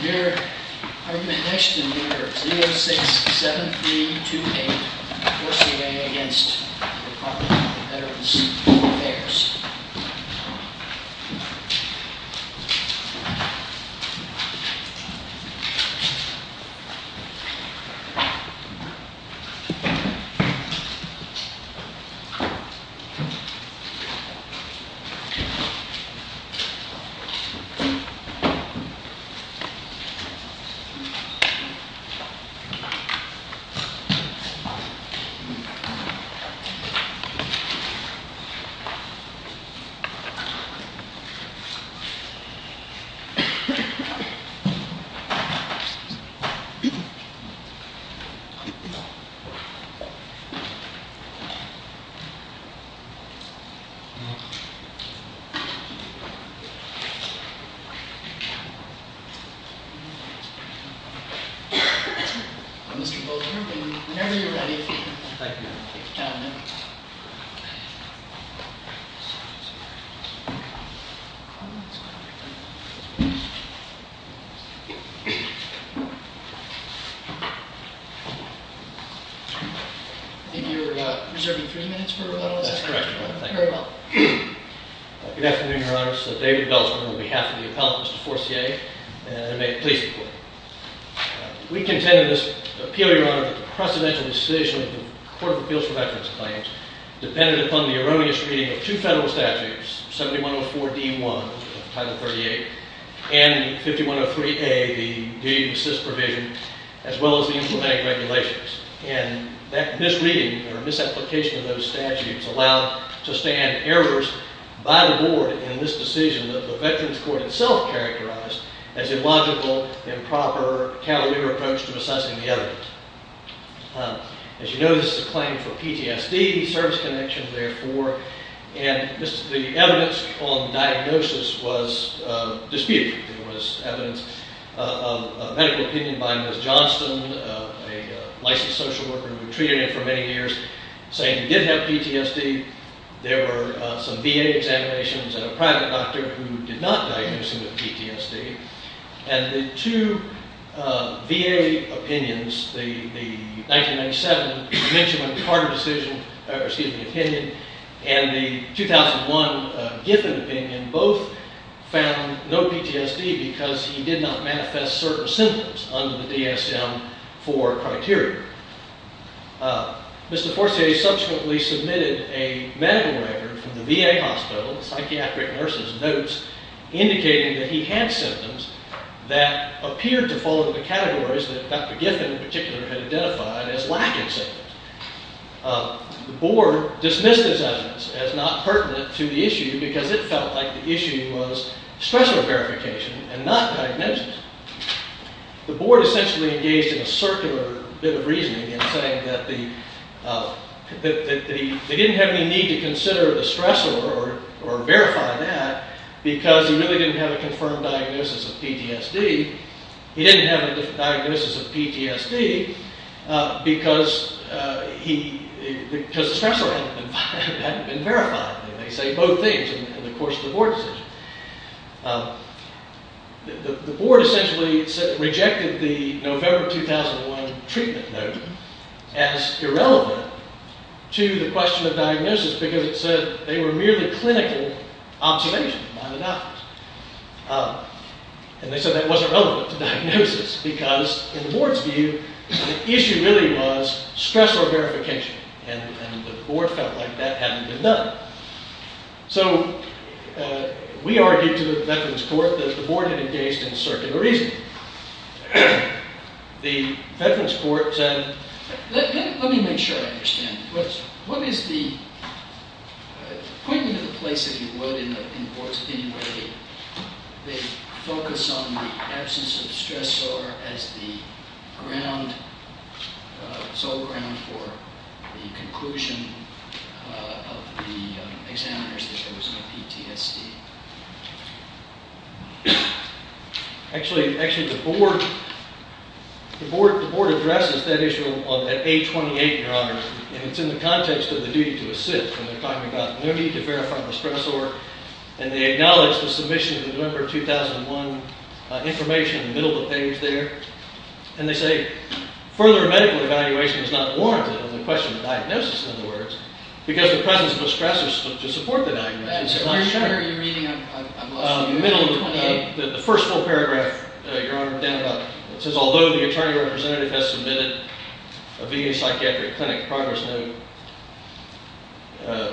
Your argument next in order, 067328, forcing against the Department of Veterans Affairs. Mr. Bolger, whenever you're ready. Thank you, Your Honor. Your Honor. I think you're reserving three minutes for rebuttal, is that correct? That's correct, Your Honor, thank you. Very well. Good afternoon, Your Honor. My name is David Beltsman on behalf of the appellant, Mr. Forcier, and may it please the Court. We contend in this appeal, Your Honor, that the precedential decision of the Court of Appeals for Veterans Claims depended upon the erroneous reading of two federal statutes, 7104D-1 of Title 38 and 5103A, the D-assist provision, as well as the implementing regulations. And that misreading or misapplication of those statutes allowed to stand errors by the board in this decision that the Veterans Court itself characterized as illogical, improper, cavalier approach to assessing the evidence. As you know, this is a claim for PTSD, service connection, therefore, and the evidence on diagnosis was disputed. There was evidence of medical opinion by Ms. Johnston, a licensed social worker who treated him for many years, saying he did have PTSD. There were some VA examinations and a private doctor who did not diagnose him with PTSD. And the two VA opinions, the 1997 Menchum and Carter decision, excuse me, opinion, and the 2001 Giffen opinion, both found no PTSD because he did not manifest certain symptoms under the DSM-IV criteria. Mr. Forcier subsequently submitted a medical record from the VA hospital, the psychiatric nurses' notes, indicating that he had symptoms that appeared to fall into the categories that Dr. Giffen, in particular, had identified as lacking symptoms. The board dismissed his evidence as not pertinent to the issue because it felt like the issue was stressor verification and not diagnosis. The board essentially engaged in a circular bit of reasoning in saying that they didn't have any need to consider the stressor or verify that because he really didn't have a confirmed diagnosis of PTSD. He didn't have a diagnosis of PTSD because the stressor hadn't been verified. They say both things in the course of the board decision. The board essentially rejected the November 2001 treatment note as irrelevant to the question of diagnosis because it said they were merely clinical observations, mind you. And they said that wasn't relevant to diagnosis because, in the board's view, the issue really was stressor verification and the board felt like that hadn't been done. So we argued to the veterans' court that the board had engaged in a circular reasoning. The veterans' court said... Let me make sure I understand. What is the... Point me to the place if you would in the board's opinion where they focus on the absence of the stressor as the sole ground for the conclusion of the examiners that there was no PTSD? Actually, the board addresses that issue at page 28, Your Honor, and it's in the context of the duty to assist. They're talking about no need to verify the stressor and they acknowledge the submission of the November 2001 information in the middle of the page there. And they say, further medical evaluation is not warranted on the question of diagnosis, in other words, because the presence of a stressor to support the diagnosis is not shown. Are you reading... I'm lost. The first full paragraph, Your Honor, it says, although the attorney representative has submitted a VA psychiatric clinic progress note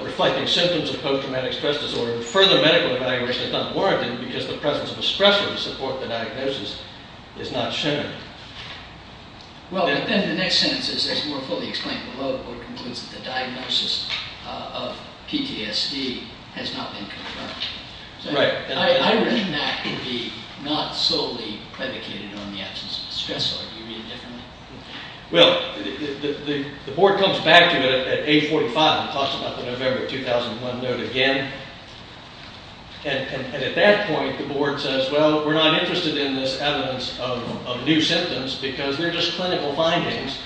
reflecting symptoms of post-traumatic stress disorder, further medical evaluation is not warranted because the presence of a stressor to support the diagnosis is not shown. Well, then the next sentence is more fully explained below. It concludes that the diagnosis of PTSD has not been confirmed. I read that to be not solely predicated on the absence of a stressor. Do you read it differently? Well, the board comes back to it at page 45 and talks about the November 2001 note again. And at that point the board says, well, we're not interested in this evidence of new symptoms because they're just clinical findings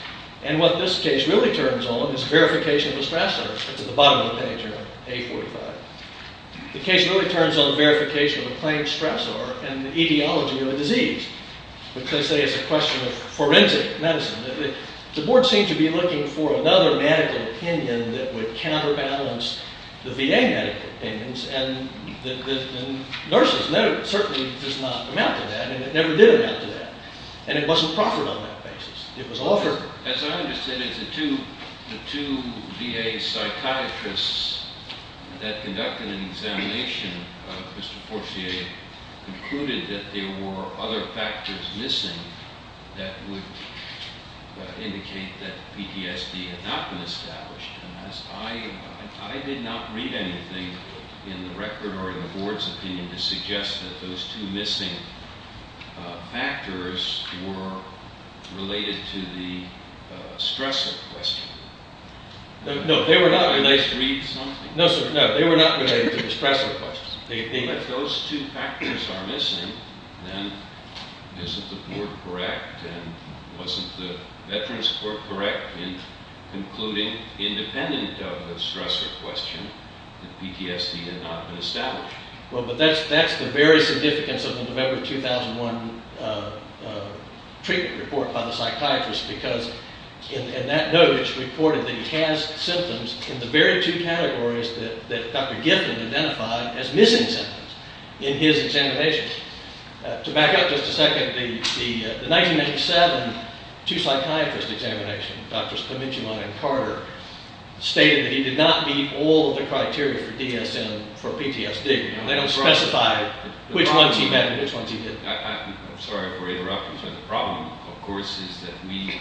and what this case really turns on is verification of a stressor. It's at the bottom of the page, Your Honor, page 45. The case really turns on verification of a claimed stressor and the etiology of a disease, which they say is a question of forensic medicine. The board seemed to be looking for another medical opinion that would counterbalance the VA medical opinions and nurses. And that certainly does not amount to that, and it never did amount to that. And it wasn't proffered on that basis. It was offered. As I understand it, the two VA psychiatrists that conducted an examination of Mr. Forcier concluded that there were other factors missing that would indicate that PTSD had not been established. And I did not read anything in the record or in the board's opinion to suggest that those two missing factors were related to the stressor question. No, they were not related to the stressor question. If those two factors are missing, then isn't the board correct, and wasn't the Veterans Court correct in concluding independent of the stressor question that PTSD had not been established? Well, but that's the very significance of the November 2001 treatment report by the psychiatrist, because in that note it's reported that he has symptoms in the very two categories that Dr. Gifford identified as missing symptoms in his examination. To back up just a second, the 1987 two psychiatrist examination, Drs. Kamichema and Carter, stated that he did not meet all of the criteria for DSM for PTSD. They don't specify which ones he met and which ones he didn't. I'm sorry for interrupting, sir. The problem, of course, is that we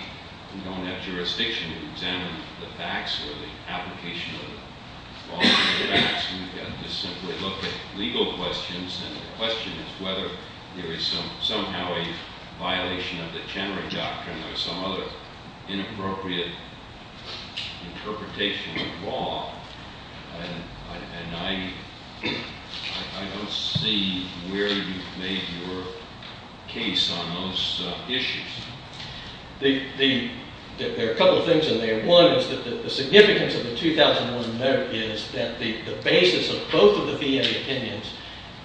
don't have jurisdiction to examine the facts or the application of all the facts. We've got to simply look at legal questions, and the question is whether there is somehow a violation of the Chenery Doctrine or some other inappropriate interpretation of law. And I don't see where you've made your case on those issues. There are a couple of things in there. One is that the significance of the 2001 note is that the basis of both of the VA opinions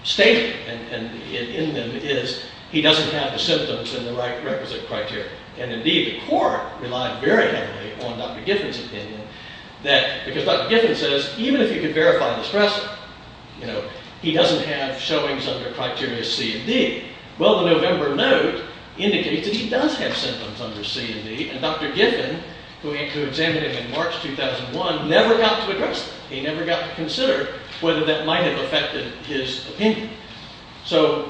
stated in them is he doesn't have the symptoms in the requisite criteria. And indeed the court relied very heavily on Dr. Gifford's opinion, because Dr. Gifford says, even if you could verify the stressor, he doesn't have showings under criteria C and D. Well, the November note indicates that he does have symptoms under C and D, and Dr. Gifford, who examined him in March 2001, never got to address that. He never got to consider whether that might have affected his opinion. So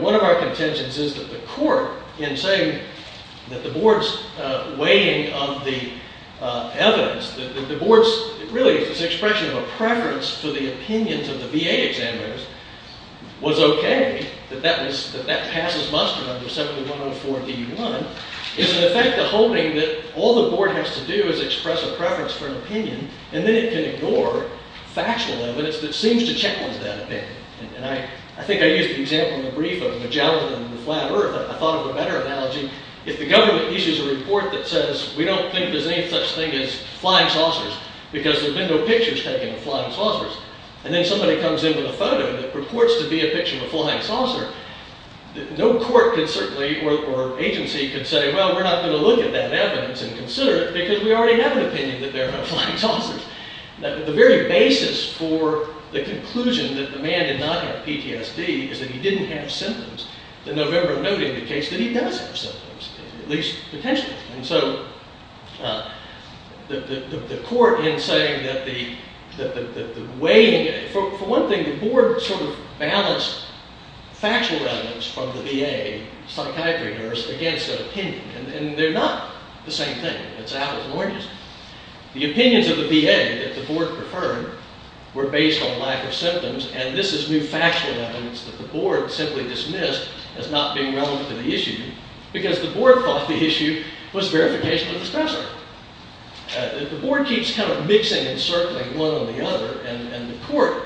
one of our contentions is that the court, in saying that the board's weighing of the evidence, that the board's really this expression of a preference for the opinions of the VA examiners, was okay, that that passes muster under 7104 D1, is in effect a holding that all the board has to do is express a preference for an opinion, and then it can ignore factual evidence that seems to challenge that opinion. And I think I used the example in the brief of Magellan and the flat earth. I thought of a better analogy. If the government issues a report that says, we don't think there's any such thing as flying saucers, because there have been no pictures taken of flying saucers, and then somebody comes in with a photo that purports to be a picture of a flying saucer, no court could certainly, or agency could say, well, we're not going to look at that evidence and consider it, because we already have an opinion that there are no flying saucers. The very basis for the conclusion that the man did not have PTSD is that he didn't have symptoms, and November noting the case that he does have symptoms, at least potentially. And so the court, in saying that the weighing of it, for one thing, the board sort of balanced factual evidence from the VA, psychiatry nurse, against an opinion. And they're not the same thing. It's out of the ordinary. The opinions of the VA that the board preferred were based on lack of symptoms, and this is new factual evidence that the board simply dismissed as not being relevant to the issue, because the board thought the issue was verification of the specimen. The board keeps kind of mixing and circling one on the other, and the court,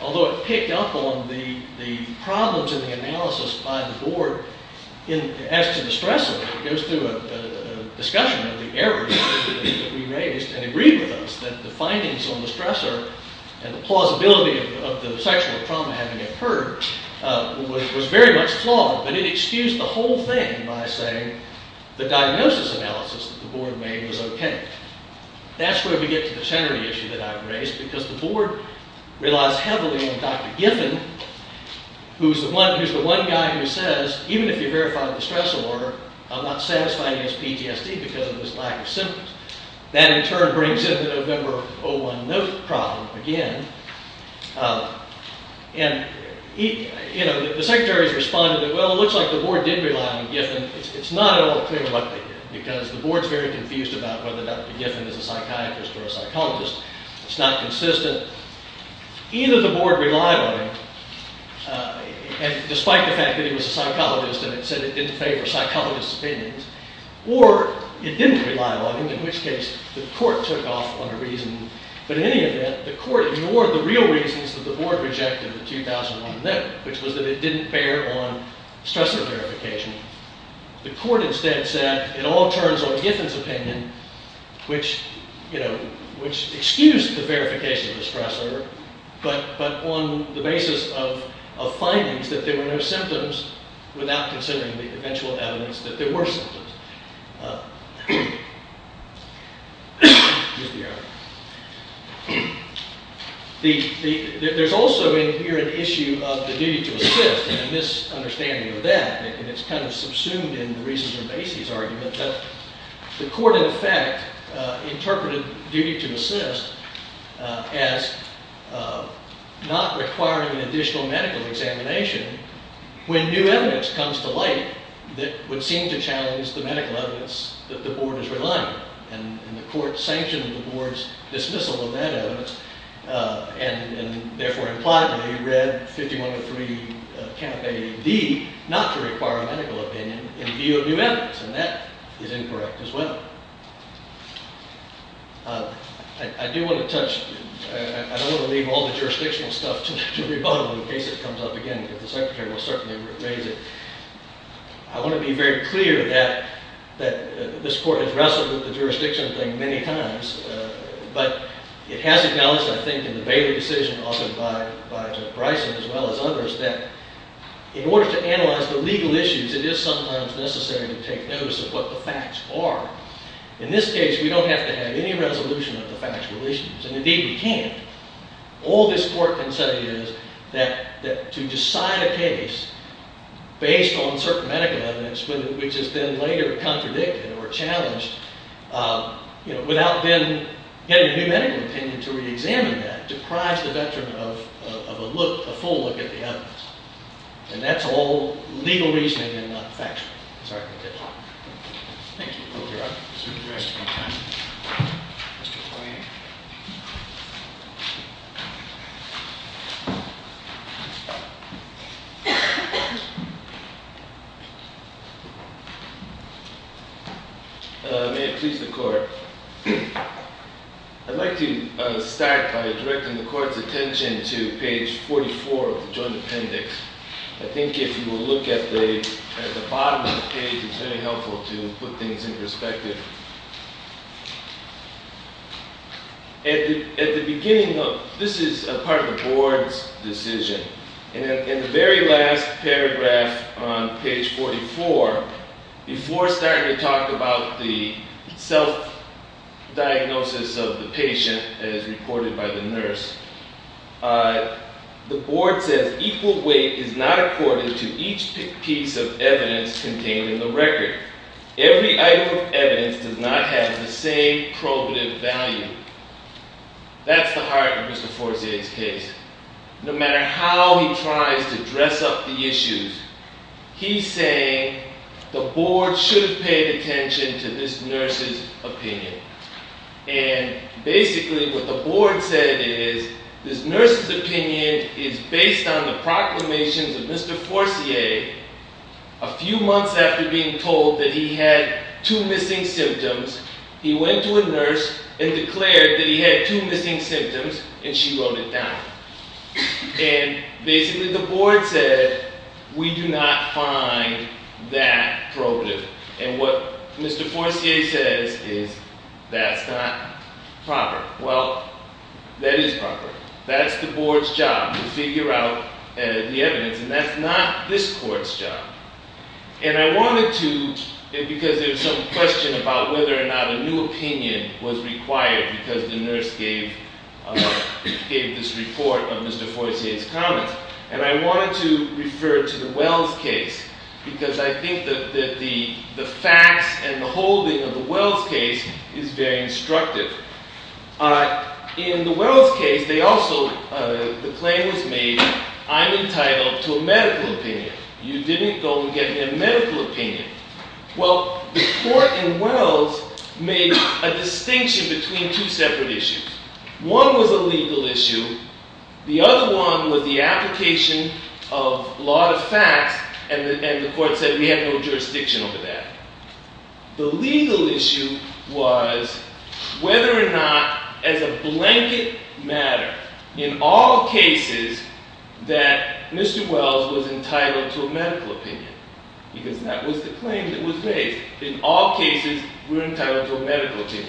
although it picked up on the problems in the analysis by the board, as to the stressor, it goes through a discussion of the errors that we raised and agreed with us that the findings on the stressor and the plausibility of the sexual trauma having occurred was very much flawed. But it excused the whole thing by saying the diagnosis analysis that the board made was OK. That's where we get to the tenory issue that I've raised, because the board relies heavily on Dr. Giffen, who's the one guy who says, even if you verify the stressor, I'm not satisfying his PTSD because of his lack of symptoms. That, in turn, brings in the November 01 note problem again. And the secretaries responded that, well, it looks like the board did rely on Giffen. It's not at all clear what they did, because the board's very confused about whether Dr. Giffen's not consistent. Either the board relied on him, despite the fact that he was a psychologist, and it said it didn't favor psychologists' opinions, or it didn't rely on him, in which case the court took off on a reason. But in any event, the court ignored the real reasons that the board rejected the 2001 note, which was that it didn't bear on stressor verification. The court instead said, it all turns on Giffen's opinion, which excused the verification of the stressor, but on the basis of findings that there were no symptoms, without considering the eventual evidence that there were symptoms. There's also in here an issue of the duty to assist, and a misunderstanding of that. And it's kind of subsumed in the reasons for Macy's argument that the court, in effect, interpreted duty to assist as not requiring an additional medical examination when new evidence comes to light that would seem to challenge the medical evidence that the board is relying on. And the court sanctioned the board's dismissal of that evidence, and therefore implied that he read 5103, camp A and D, not to require a medical opinion in view of new evidence. And that is incorrect, as well. I do want to touch, I don't want to leave all the jurisdictional stuff to rebuttal, in case it comes up again. But the secretary will certainly raise it. I want to be very clear that this court has wrestled with the jurisdiction thing many times. But it has acknowledged, I think, in the Bailey decision, often by Judge Bryson, as well as others, that in order to analyze the legal issues, it is sometimes necessary to take notice of what the facts are. In this case, we don't have to have any resolution of the facts relations. And indeed, we can't. All this court can say is that to decide a case based on certain medical evidence, which has been later contradicted or challenged, without then getting a new medical opinion to reexamine that, deprives the veteran of a full look at the evidence. And that's all legal reasoning and not factual. Thank you. May it please the court. I'd like to start by directing the court's attention to page 44 of the joint appendix. I think if you will look at the bottom of the page, it's very helpful to put things in perspective. This is a part of the board's decision. In the very last paragraph on page 44, before starting to talk about the self-diagnosis of the patient, as reported by the nurse, the board says equal weight is not accorded to each piece of evidence contained in the record. Every item of evidence does not have the same probative value. That's the heart of Mr. Forcier's case. No matter how he tries to dress up the issues, to this nurse's opinion. And basically, what the board said is this nurse's opinion is based on the proclamations of Mr. Forcier. A few months after being told that he had two missing symptoms, he went to a nurse and declared that he had two missing symptoms, and she wrote it down. And basically, the board said, we do not find that probative. And what Mr. Forcier says is, that's not proper. Well, that is proper. That's the board's job, to figure out the evidence. And that's not this court's job. And I wanted to, because there's some question about whether or not a new opinion was required, because the nurse gave this report of Mr. Forcier's comments. And I wanted to refer to the Wells case, because I think that the facts and the holding of the Wells case is very instructive. In the Wells case, the claim was made, I'm entitled to a medical opinion. You didn't go and get a medical opinion. Well, the court in Wells made a distinction between two separate issues. One was a legal issue. The other one was the application of a lot of facts. And the court said, we have no jurisdiction over that. The legal issue was whether or not, as a blanket matter, in all cases, that Mr. Wells was entitled to a medical opinion. Because that was the claim that was made. In all cases, we're entitled to a medical opinion.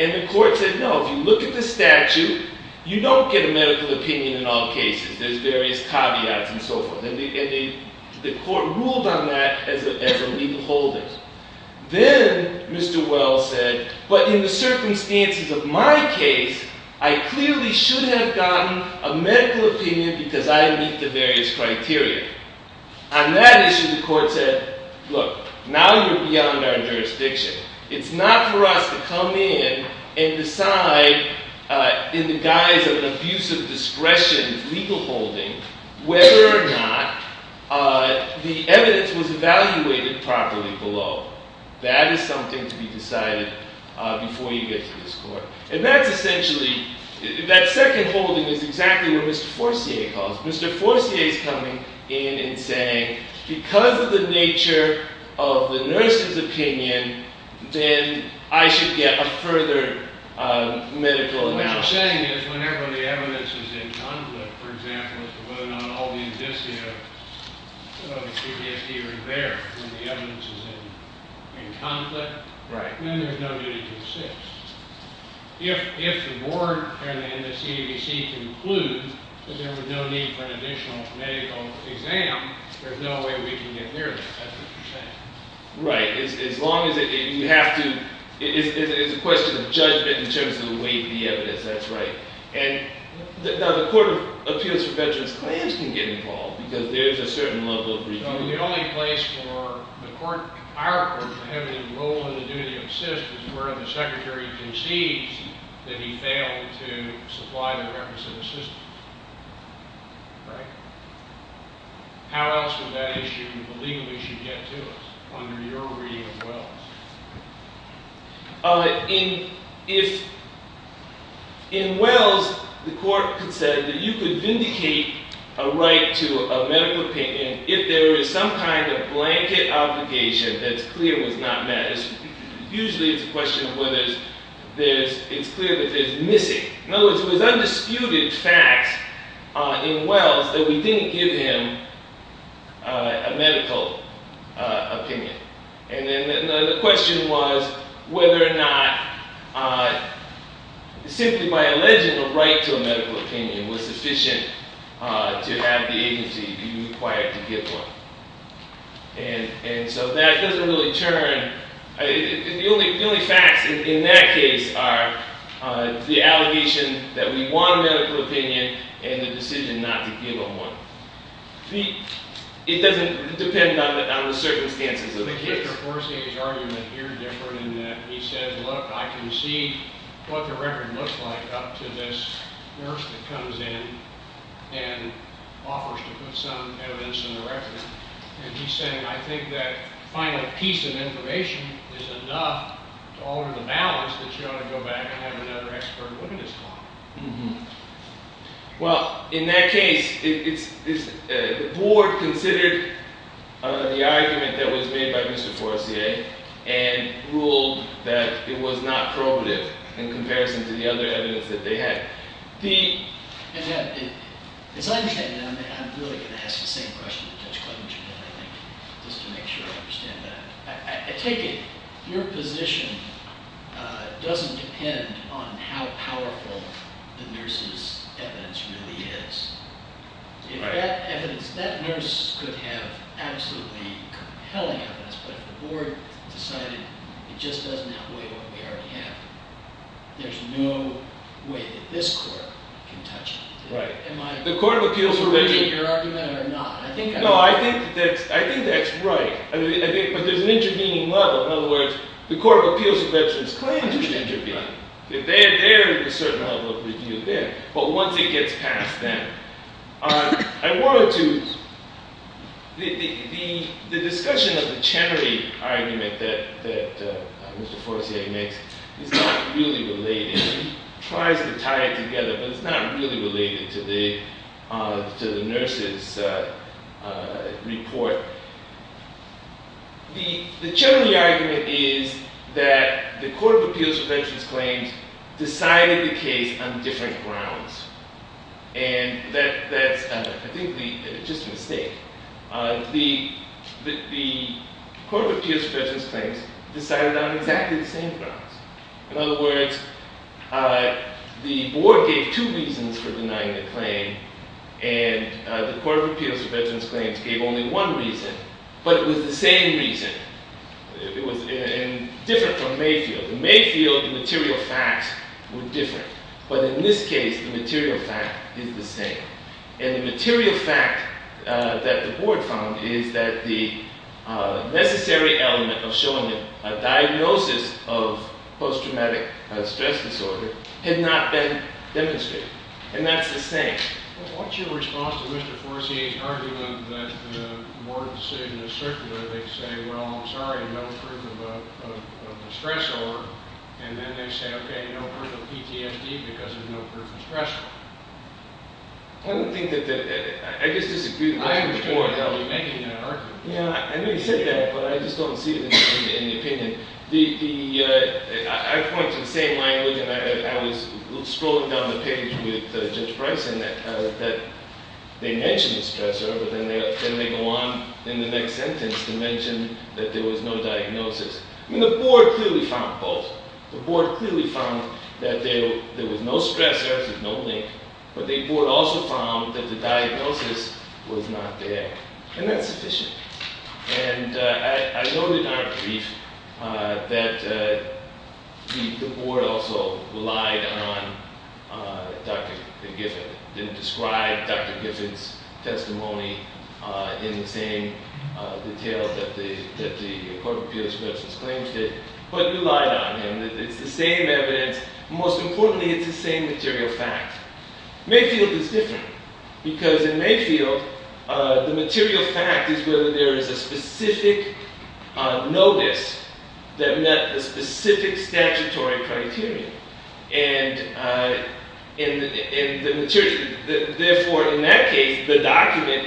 And the court said, no, if you look at the statute, you don't get a medical opinion in all cases. There's various caveats and so forth. And the court ruled on that as a legal holding. Then Mr. Wells said, but in the circumstances of my case, I clearly should have gotten a medical opinion, because I meet the various criteria. On that issue, the court said, look, now you're beyond our jurisdiction. It's not for us to come in and decide, in the guise of abusive discretion legal holding, whether or not the evidence was evaluated properly below. That is something to be decided before you get to this court. And that's essentially, that second holding is exactly what Mr. Forcier calls. Mr. Forcier is coming in and saying, because of the nature of the nurse's opinion, then I should get a further medical analysis. What I'm saying is, whenever the evidence is in conflict, for example, as to whether or not all the indicia of PTSD are there, when the evidence is in conflict, then there's no need to insist. If the board and the CDC conclude that there was no need for an additional medical exam, there's no way we can get near that. That's what you're saying. Right. As long as you have to, it's a question of judgment in terms of the weight of the evidence. That's right. Now, the Court of Appeals for Veterans Claims can get involved, because there's a certain level of review. The only place for the court, our court, to have any role in the duty of assist is where the secretary concedes that he failed to supply the requisite assistance. Right? get to us, under your reading as well? In Wells, the court said that you could vindicate a right to a medical opinion if there is some kind of blanket obligation that's clear was not met. Usually, it's a question of whether it's clear that there's missing. In other words, it was undisputed facts in Wells that we didn't give him a medical opinion. And then the question was whether or not simply by alleging a right to a medical opinion was sufficient to have the agency be required to give one. And so that doesn't really turn. The only facts in that case are the allegation that we want a medical opinion and the decision not to give him one. It doesn't depend on the circumstances of the case. Mr. Forcier's argument here is different in that he says, look, I can see what the record looks like up to this nurse that comes in and offers to put some evidence in the record. And he's saying, I think that final piece of information is enough to alter the balance that you ought to go back and have another expert look at his file. Well, in that case, the board considered the argument that was made by Mr. Forcier and ruled that it was not probative in comparison to the other evidence that they had. As I look at it, I'm really going to ask the same question that Judge Clement should have, I think, just to make sure I understand that. I take it your position doesn't depend on how powerful the nurse's evidence really is. If that evidence, that nurse could have absolutely compelling evidence, but if the board decided it just doesn't outweigh what we already have, there's no way that this court can touch it. Right. Am I contradicting your argument or not? No, I think that's right. But there's an intervening level. In other words, the Court of Appeals of Veterans Claims should intervene. If they're there, there's a certain level of review there. But once it gets past them, I wanted to, the discussion of the Chenery argument that Mr. Forcier makes is not really related. He tries to tie it together, but it's not really related to the nurse's report. The Chenery argument is that the Court of Appeals of Veterans Claims decided the case on different grounds. And that's, I think, just a mistake. The Court of Appeals of Veterans Claims decided on exactly the same grounds. In other words, the board gave two reasons for denying the claim. And the Court of Appeals of Veterans Claims gave only one reason. But it was the same reason. It was different from Mayfield. In Mayfield, the material facts were different. But in this case, the material fact is the same. And the material fact that the board found is that the necessary element of showing a diagnosis of post-traumatic stress disorder had not been demonstrated. And that's the same. What's your response to Mr. Forcier's argument that the board decision is circular? They say, well, I'm sorry, no proof of a stress disorder. And then they say, OK, no proof of PTSD because there's no proof of stress disorder. I don't think that the, I guess this is a good language point. I understand how you're making that argument. Yeah, I may have said that, but I just don't see it in the opinion. I point to the same language. I was scrolling down the page with Judge Bryson that they mentioned the stressor. But then they go on in the next sentence to mention that there was no diagnosis. I mean, the board clearly found both. The board clearly found that there was no stressor. There's no link. But the board also found that the diagnosis was not there. And that's sufficient. And I noted in our brief that the board also relied on Dr. Gifford. It didn't describe Dr. Gifford's testimony in the same detail that the Court of Appeals versus claims did. But it relied on him. It's the same evidence. Most importantly, it's the same material fact. Mayfield is different. Because in Mayfield, the material fact is whether there is a specific notice that met the specific statutory criteria. Therefore, in that case, the document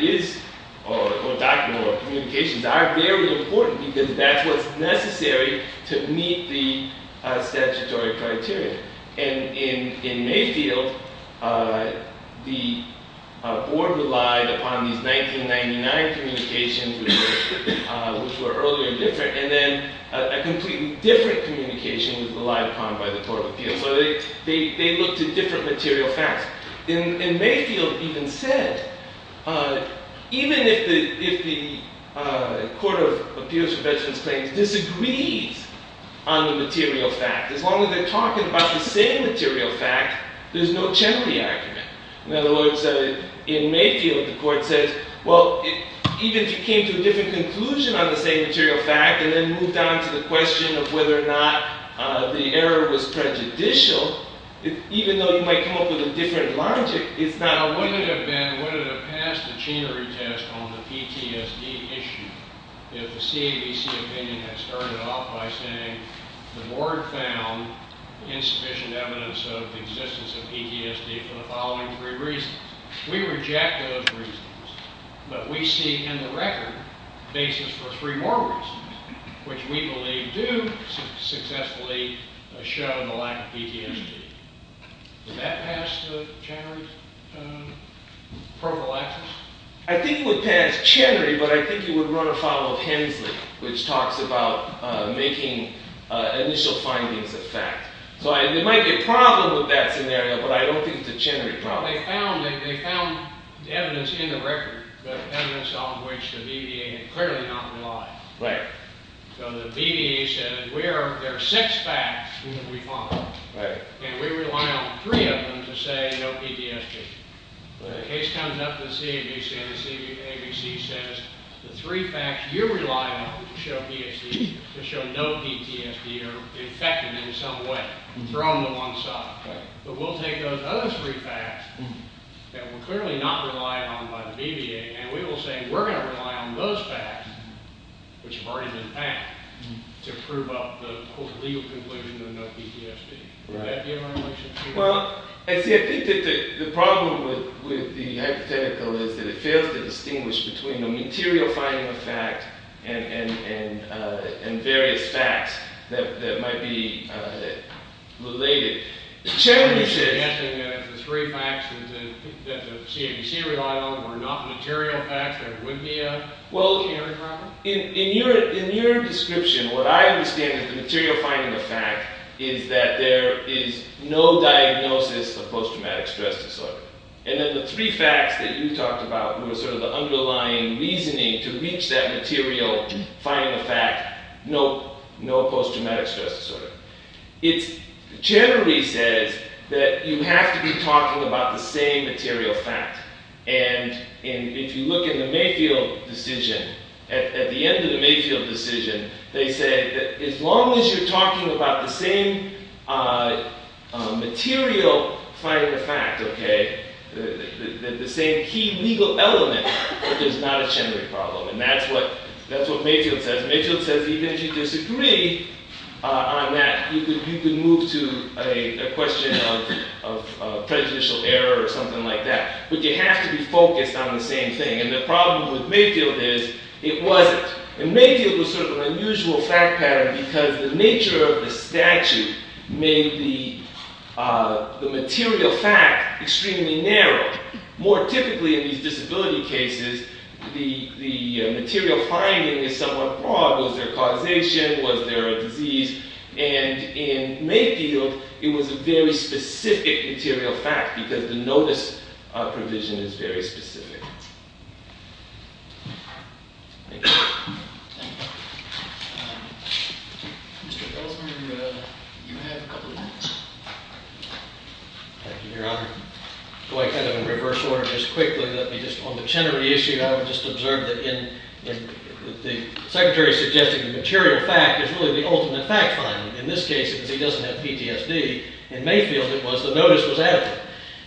or communications are very important. Because that's what's necessary to meet the statutory criteria. And in Mayfield, the board relied upon these 1999 communications, which were earlier and different. And then a completely different communication was relied upon by the Court of Appeals. So they looked at different material facts. In Mayfield, it even said, even if the Court of Appeals for Veterans Claims disagrees on the material fact, as long as they're talking about the same material fact, there's no chemical argument. In other words, in Mayfield, the court says, well, even if you came to a different conclusion on the same material fact, and then moved on to the question of whether or not the error was prejudicial, even though you might come up with a different logic, it's not a problem. Would it have passed the Chenery test on the PTSD issue if the CAVC opinion had started off by saying the board found insufficient evidence of the existence of PTSD for the following three reasons? We reject those reasons, but we see in the record basis for three more reasons, which we believe do successfully show the lack of PTSD. Would that pass the Chenery prophylaxis? I think it would pass Chenery, but I think it would run afoul of Hensley, which talks about making initial findings a fact. So there might be a problem with that scenario, but I don't think it's a Chenery problem. They found evidence in the record, but evidence on which the BDA had clearly not relied. So the BDA said, there are six facts we found, and we rely on three of them to say no PTSD. The case comes up to the CAVC, and the CAVC says, the three facts you rely on to show no PTSD are effective in some way. Throw them to one side. But we'll take those other three facts that we're clearly not relying on by the BDA, and we will say, we're going to rely on those facts, which have already been found, to prove up the court's legal conclusion of no PTSD. Would that be in our relationship? Well, I think that the problem with the hypothetical is that it fails to distinguish between a material finding of fact and various facts that might be related. Chenery said that the three facts that the CAVC relied on were not material facts. There would be a Chenery problem. Well, in your description, what I understand as the material finding of fact is that there is no diagnosis of post-traumatic stress disorder. And that the three facts that you talked about were sort of the underlying reasoning to reach that material finding of fact, no post-traumatic stress disorder. It's Chenery says that you have to be talking about the same material fact. And if you look at the Mayfield decision, at the end of the Mayfield decision, they say that as long as you're talking about the same material finding of fact, the same key legal element, there's not a Chenery problem. And that's what Mayfield says. Mayfield says even if you disagree on that, you can move to a question of prejudicial error or something like that. But you have to be focused on the same thing. And the problem with Mayfield is it wasn't. And Mayfield was sort of an unusual fact pattern because the nature of the statute made the material fact extremely narrow. More typically in these disability cases, the material finding is somewhat broad. Was there causation? Was there a disease? And in Mayfield, it was a very specific material fact because the notice provision is very specific. Thank you. Mr. Ellsberg, you have a couple of minutes. Thank you, Your Honor. Do I kind of in reverse order just quickly? Let me just, on the Chenery issue, I would just observe that the secretary suggesting the material fact is really the ultimate fact finding. In this case, because he doesn't have PTSD, in Mayfield, it was the notice was adequate.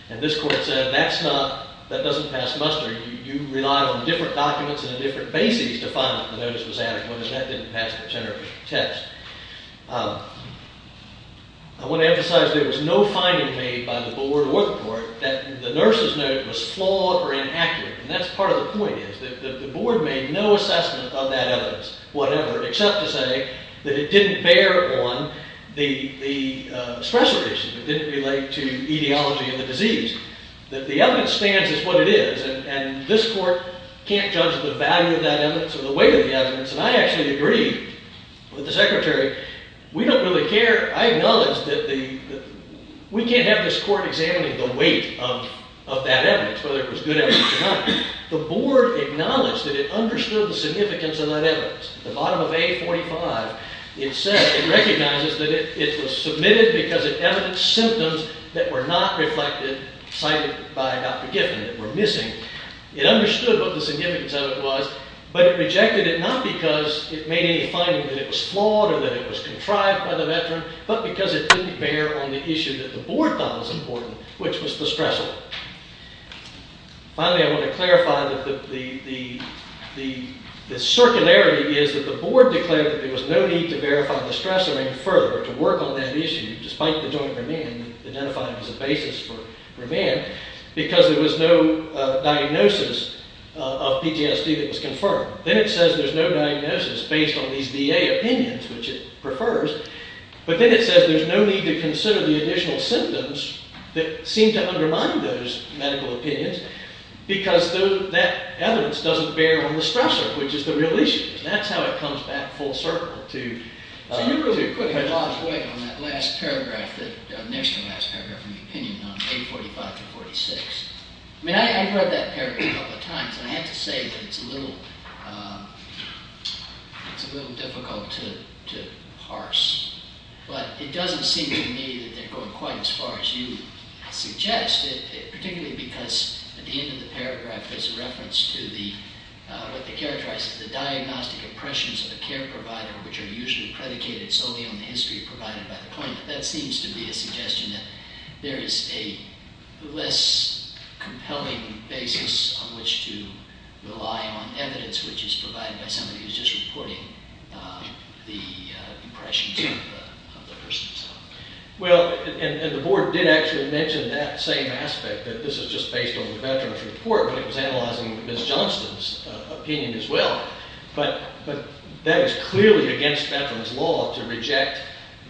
And this court said, that doesn't pass muster. You rely on different documents and a different basis to find that the notice was adequate. And that didn't pass the Chenery test. I want to emphasize there was no finding made by the board or the court that the nurse's note was flawed or inaccurate. And that's part of the point is that the board made no assessment of that evidence, whatever, except to say that it didn't bear on the stressor issue. It didn't relate to etiology of the disease. That the evidence stands as what it is. And this court can't judge the value of that evidence or the weight of the evidence. And I actually agree with the secretary. We don't really care. I acknowledge that we can't have this court examining the weight of that evidence, whether it was good evidence or not. The board acknowledged that it understood the significance of that evidence. At the bottom of A45, it said it recognizes that it was submitted because it evidenced symptoms that were not reflected, cited by Dr. Giffen, that were missing. It understood what the significance of it was. But it rejected it not because it made any finding that it was flawed or that it was contrived by the veteran, but because it didn't bear on the issue that the board thought was important, which was the stressor. Finally, I want to clarify that the circularity is that the board declared that there was no need to verify the stressor any further to work on that issue, despite the joint remand identified as a basis for remand, because there was no diagnosis of PTSD that was confirmed. Then it says there's no diagnosis based on these VA opinions, which it prefers. But then it says there's no need to consider the additional symptoms that seem to undermine those medical opinions, because that evidence doesn't bear on the stressor, which is the real issue. That's how it comes back full circle. So you really put a lot of weight on that last paragraph, the next to last paragraph of the opinion on 845 to 846. I mean, I've read that paragraph a couple of times. And I have to say that it's a little difficult to parse. But it doesn't seem to me that they're going quite as far as you suggest, particularly because at the end of the paragraph there's a reference to what they characterize as the diagnostic impressions of a care provider, which are usually predicated solely on the history provided by the claimant. That seems to be a suggestion that there is a less compelling basis on which to rely on evidence which is provided by somebody who's just reporting the impressions of the person. Well, and the board did actually mention that same aspect, that this is just based on the veteran's report, but it was analyzing Ms. Johnston's opinion as well. But that was clearly against veterans' law to reject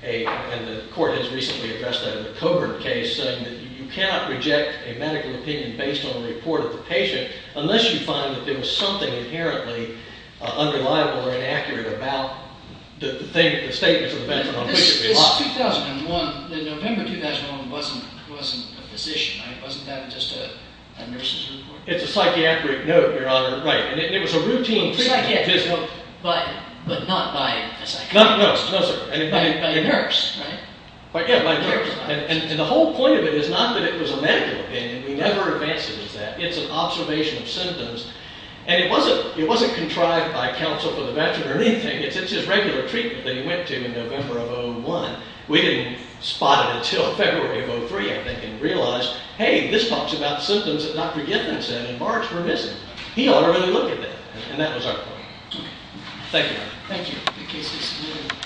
a, and the court has recently addressed that in the Coburn case, saying that you cannot reject a medical opinion based on a report of the patient unless you find that there was something inherently unreliable or inaccurate about the statements of the veteran on which to rely. This is 2001. The November 2001 wasn't a physician, right? Wasn't that just a nurse's report? It's a psychiatric note, Your Honor. Right. And it was a routine physical. But not by a psychiatrist. No, sir. By a nurse, right? Yeah, by a nurse. And the whole point of it is not that it was a medical opinion. We never advanced it as that. It's an observation of symptoms. And it wasn't contrived by counsel for the veteran or anything. It's just regular treatment that he went to in November of 01. We didn't spot it until February of 03, I think, and realized, hey, this talks about symptoms that Dr. Gibbons said in March were missing. He ought to really look at that. And that was our point. Okay. Thank you, Your Honor. Thank you. The case is submitted.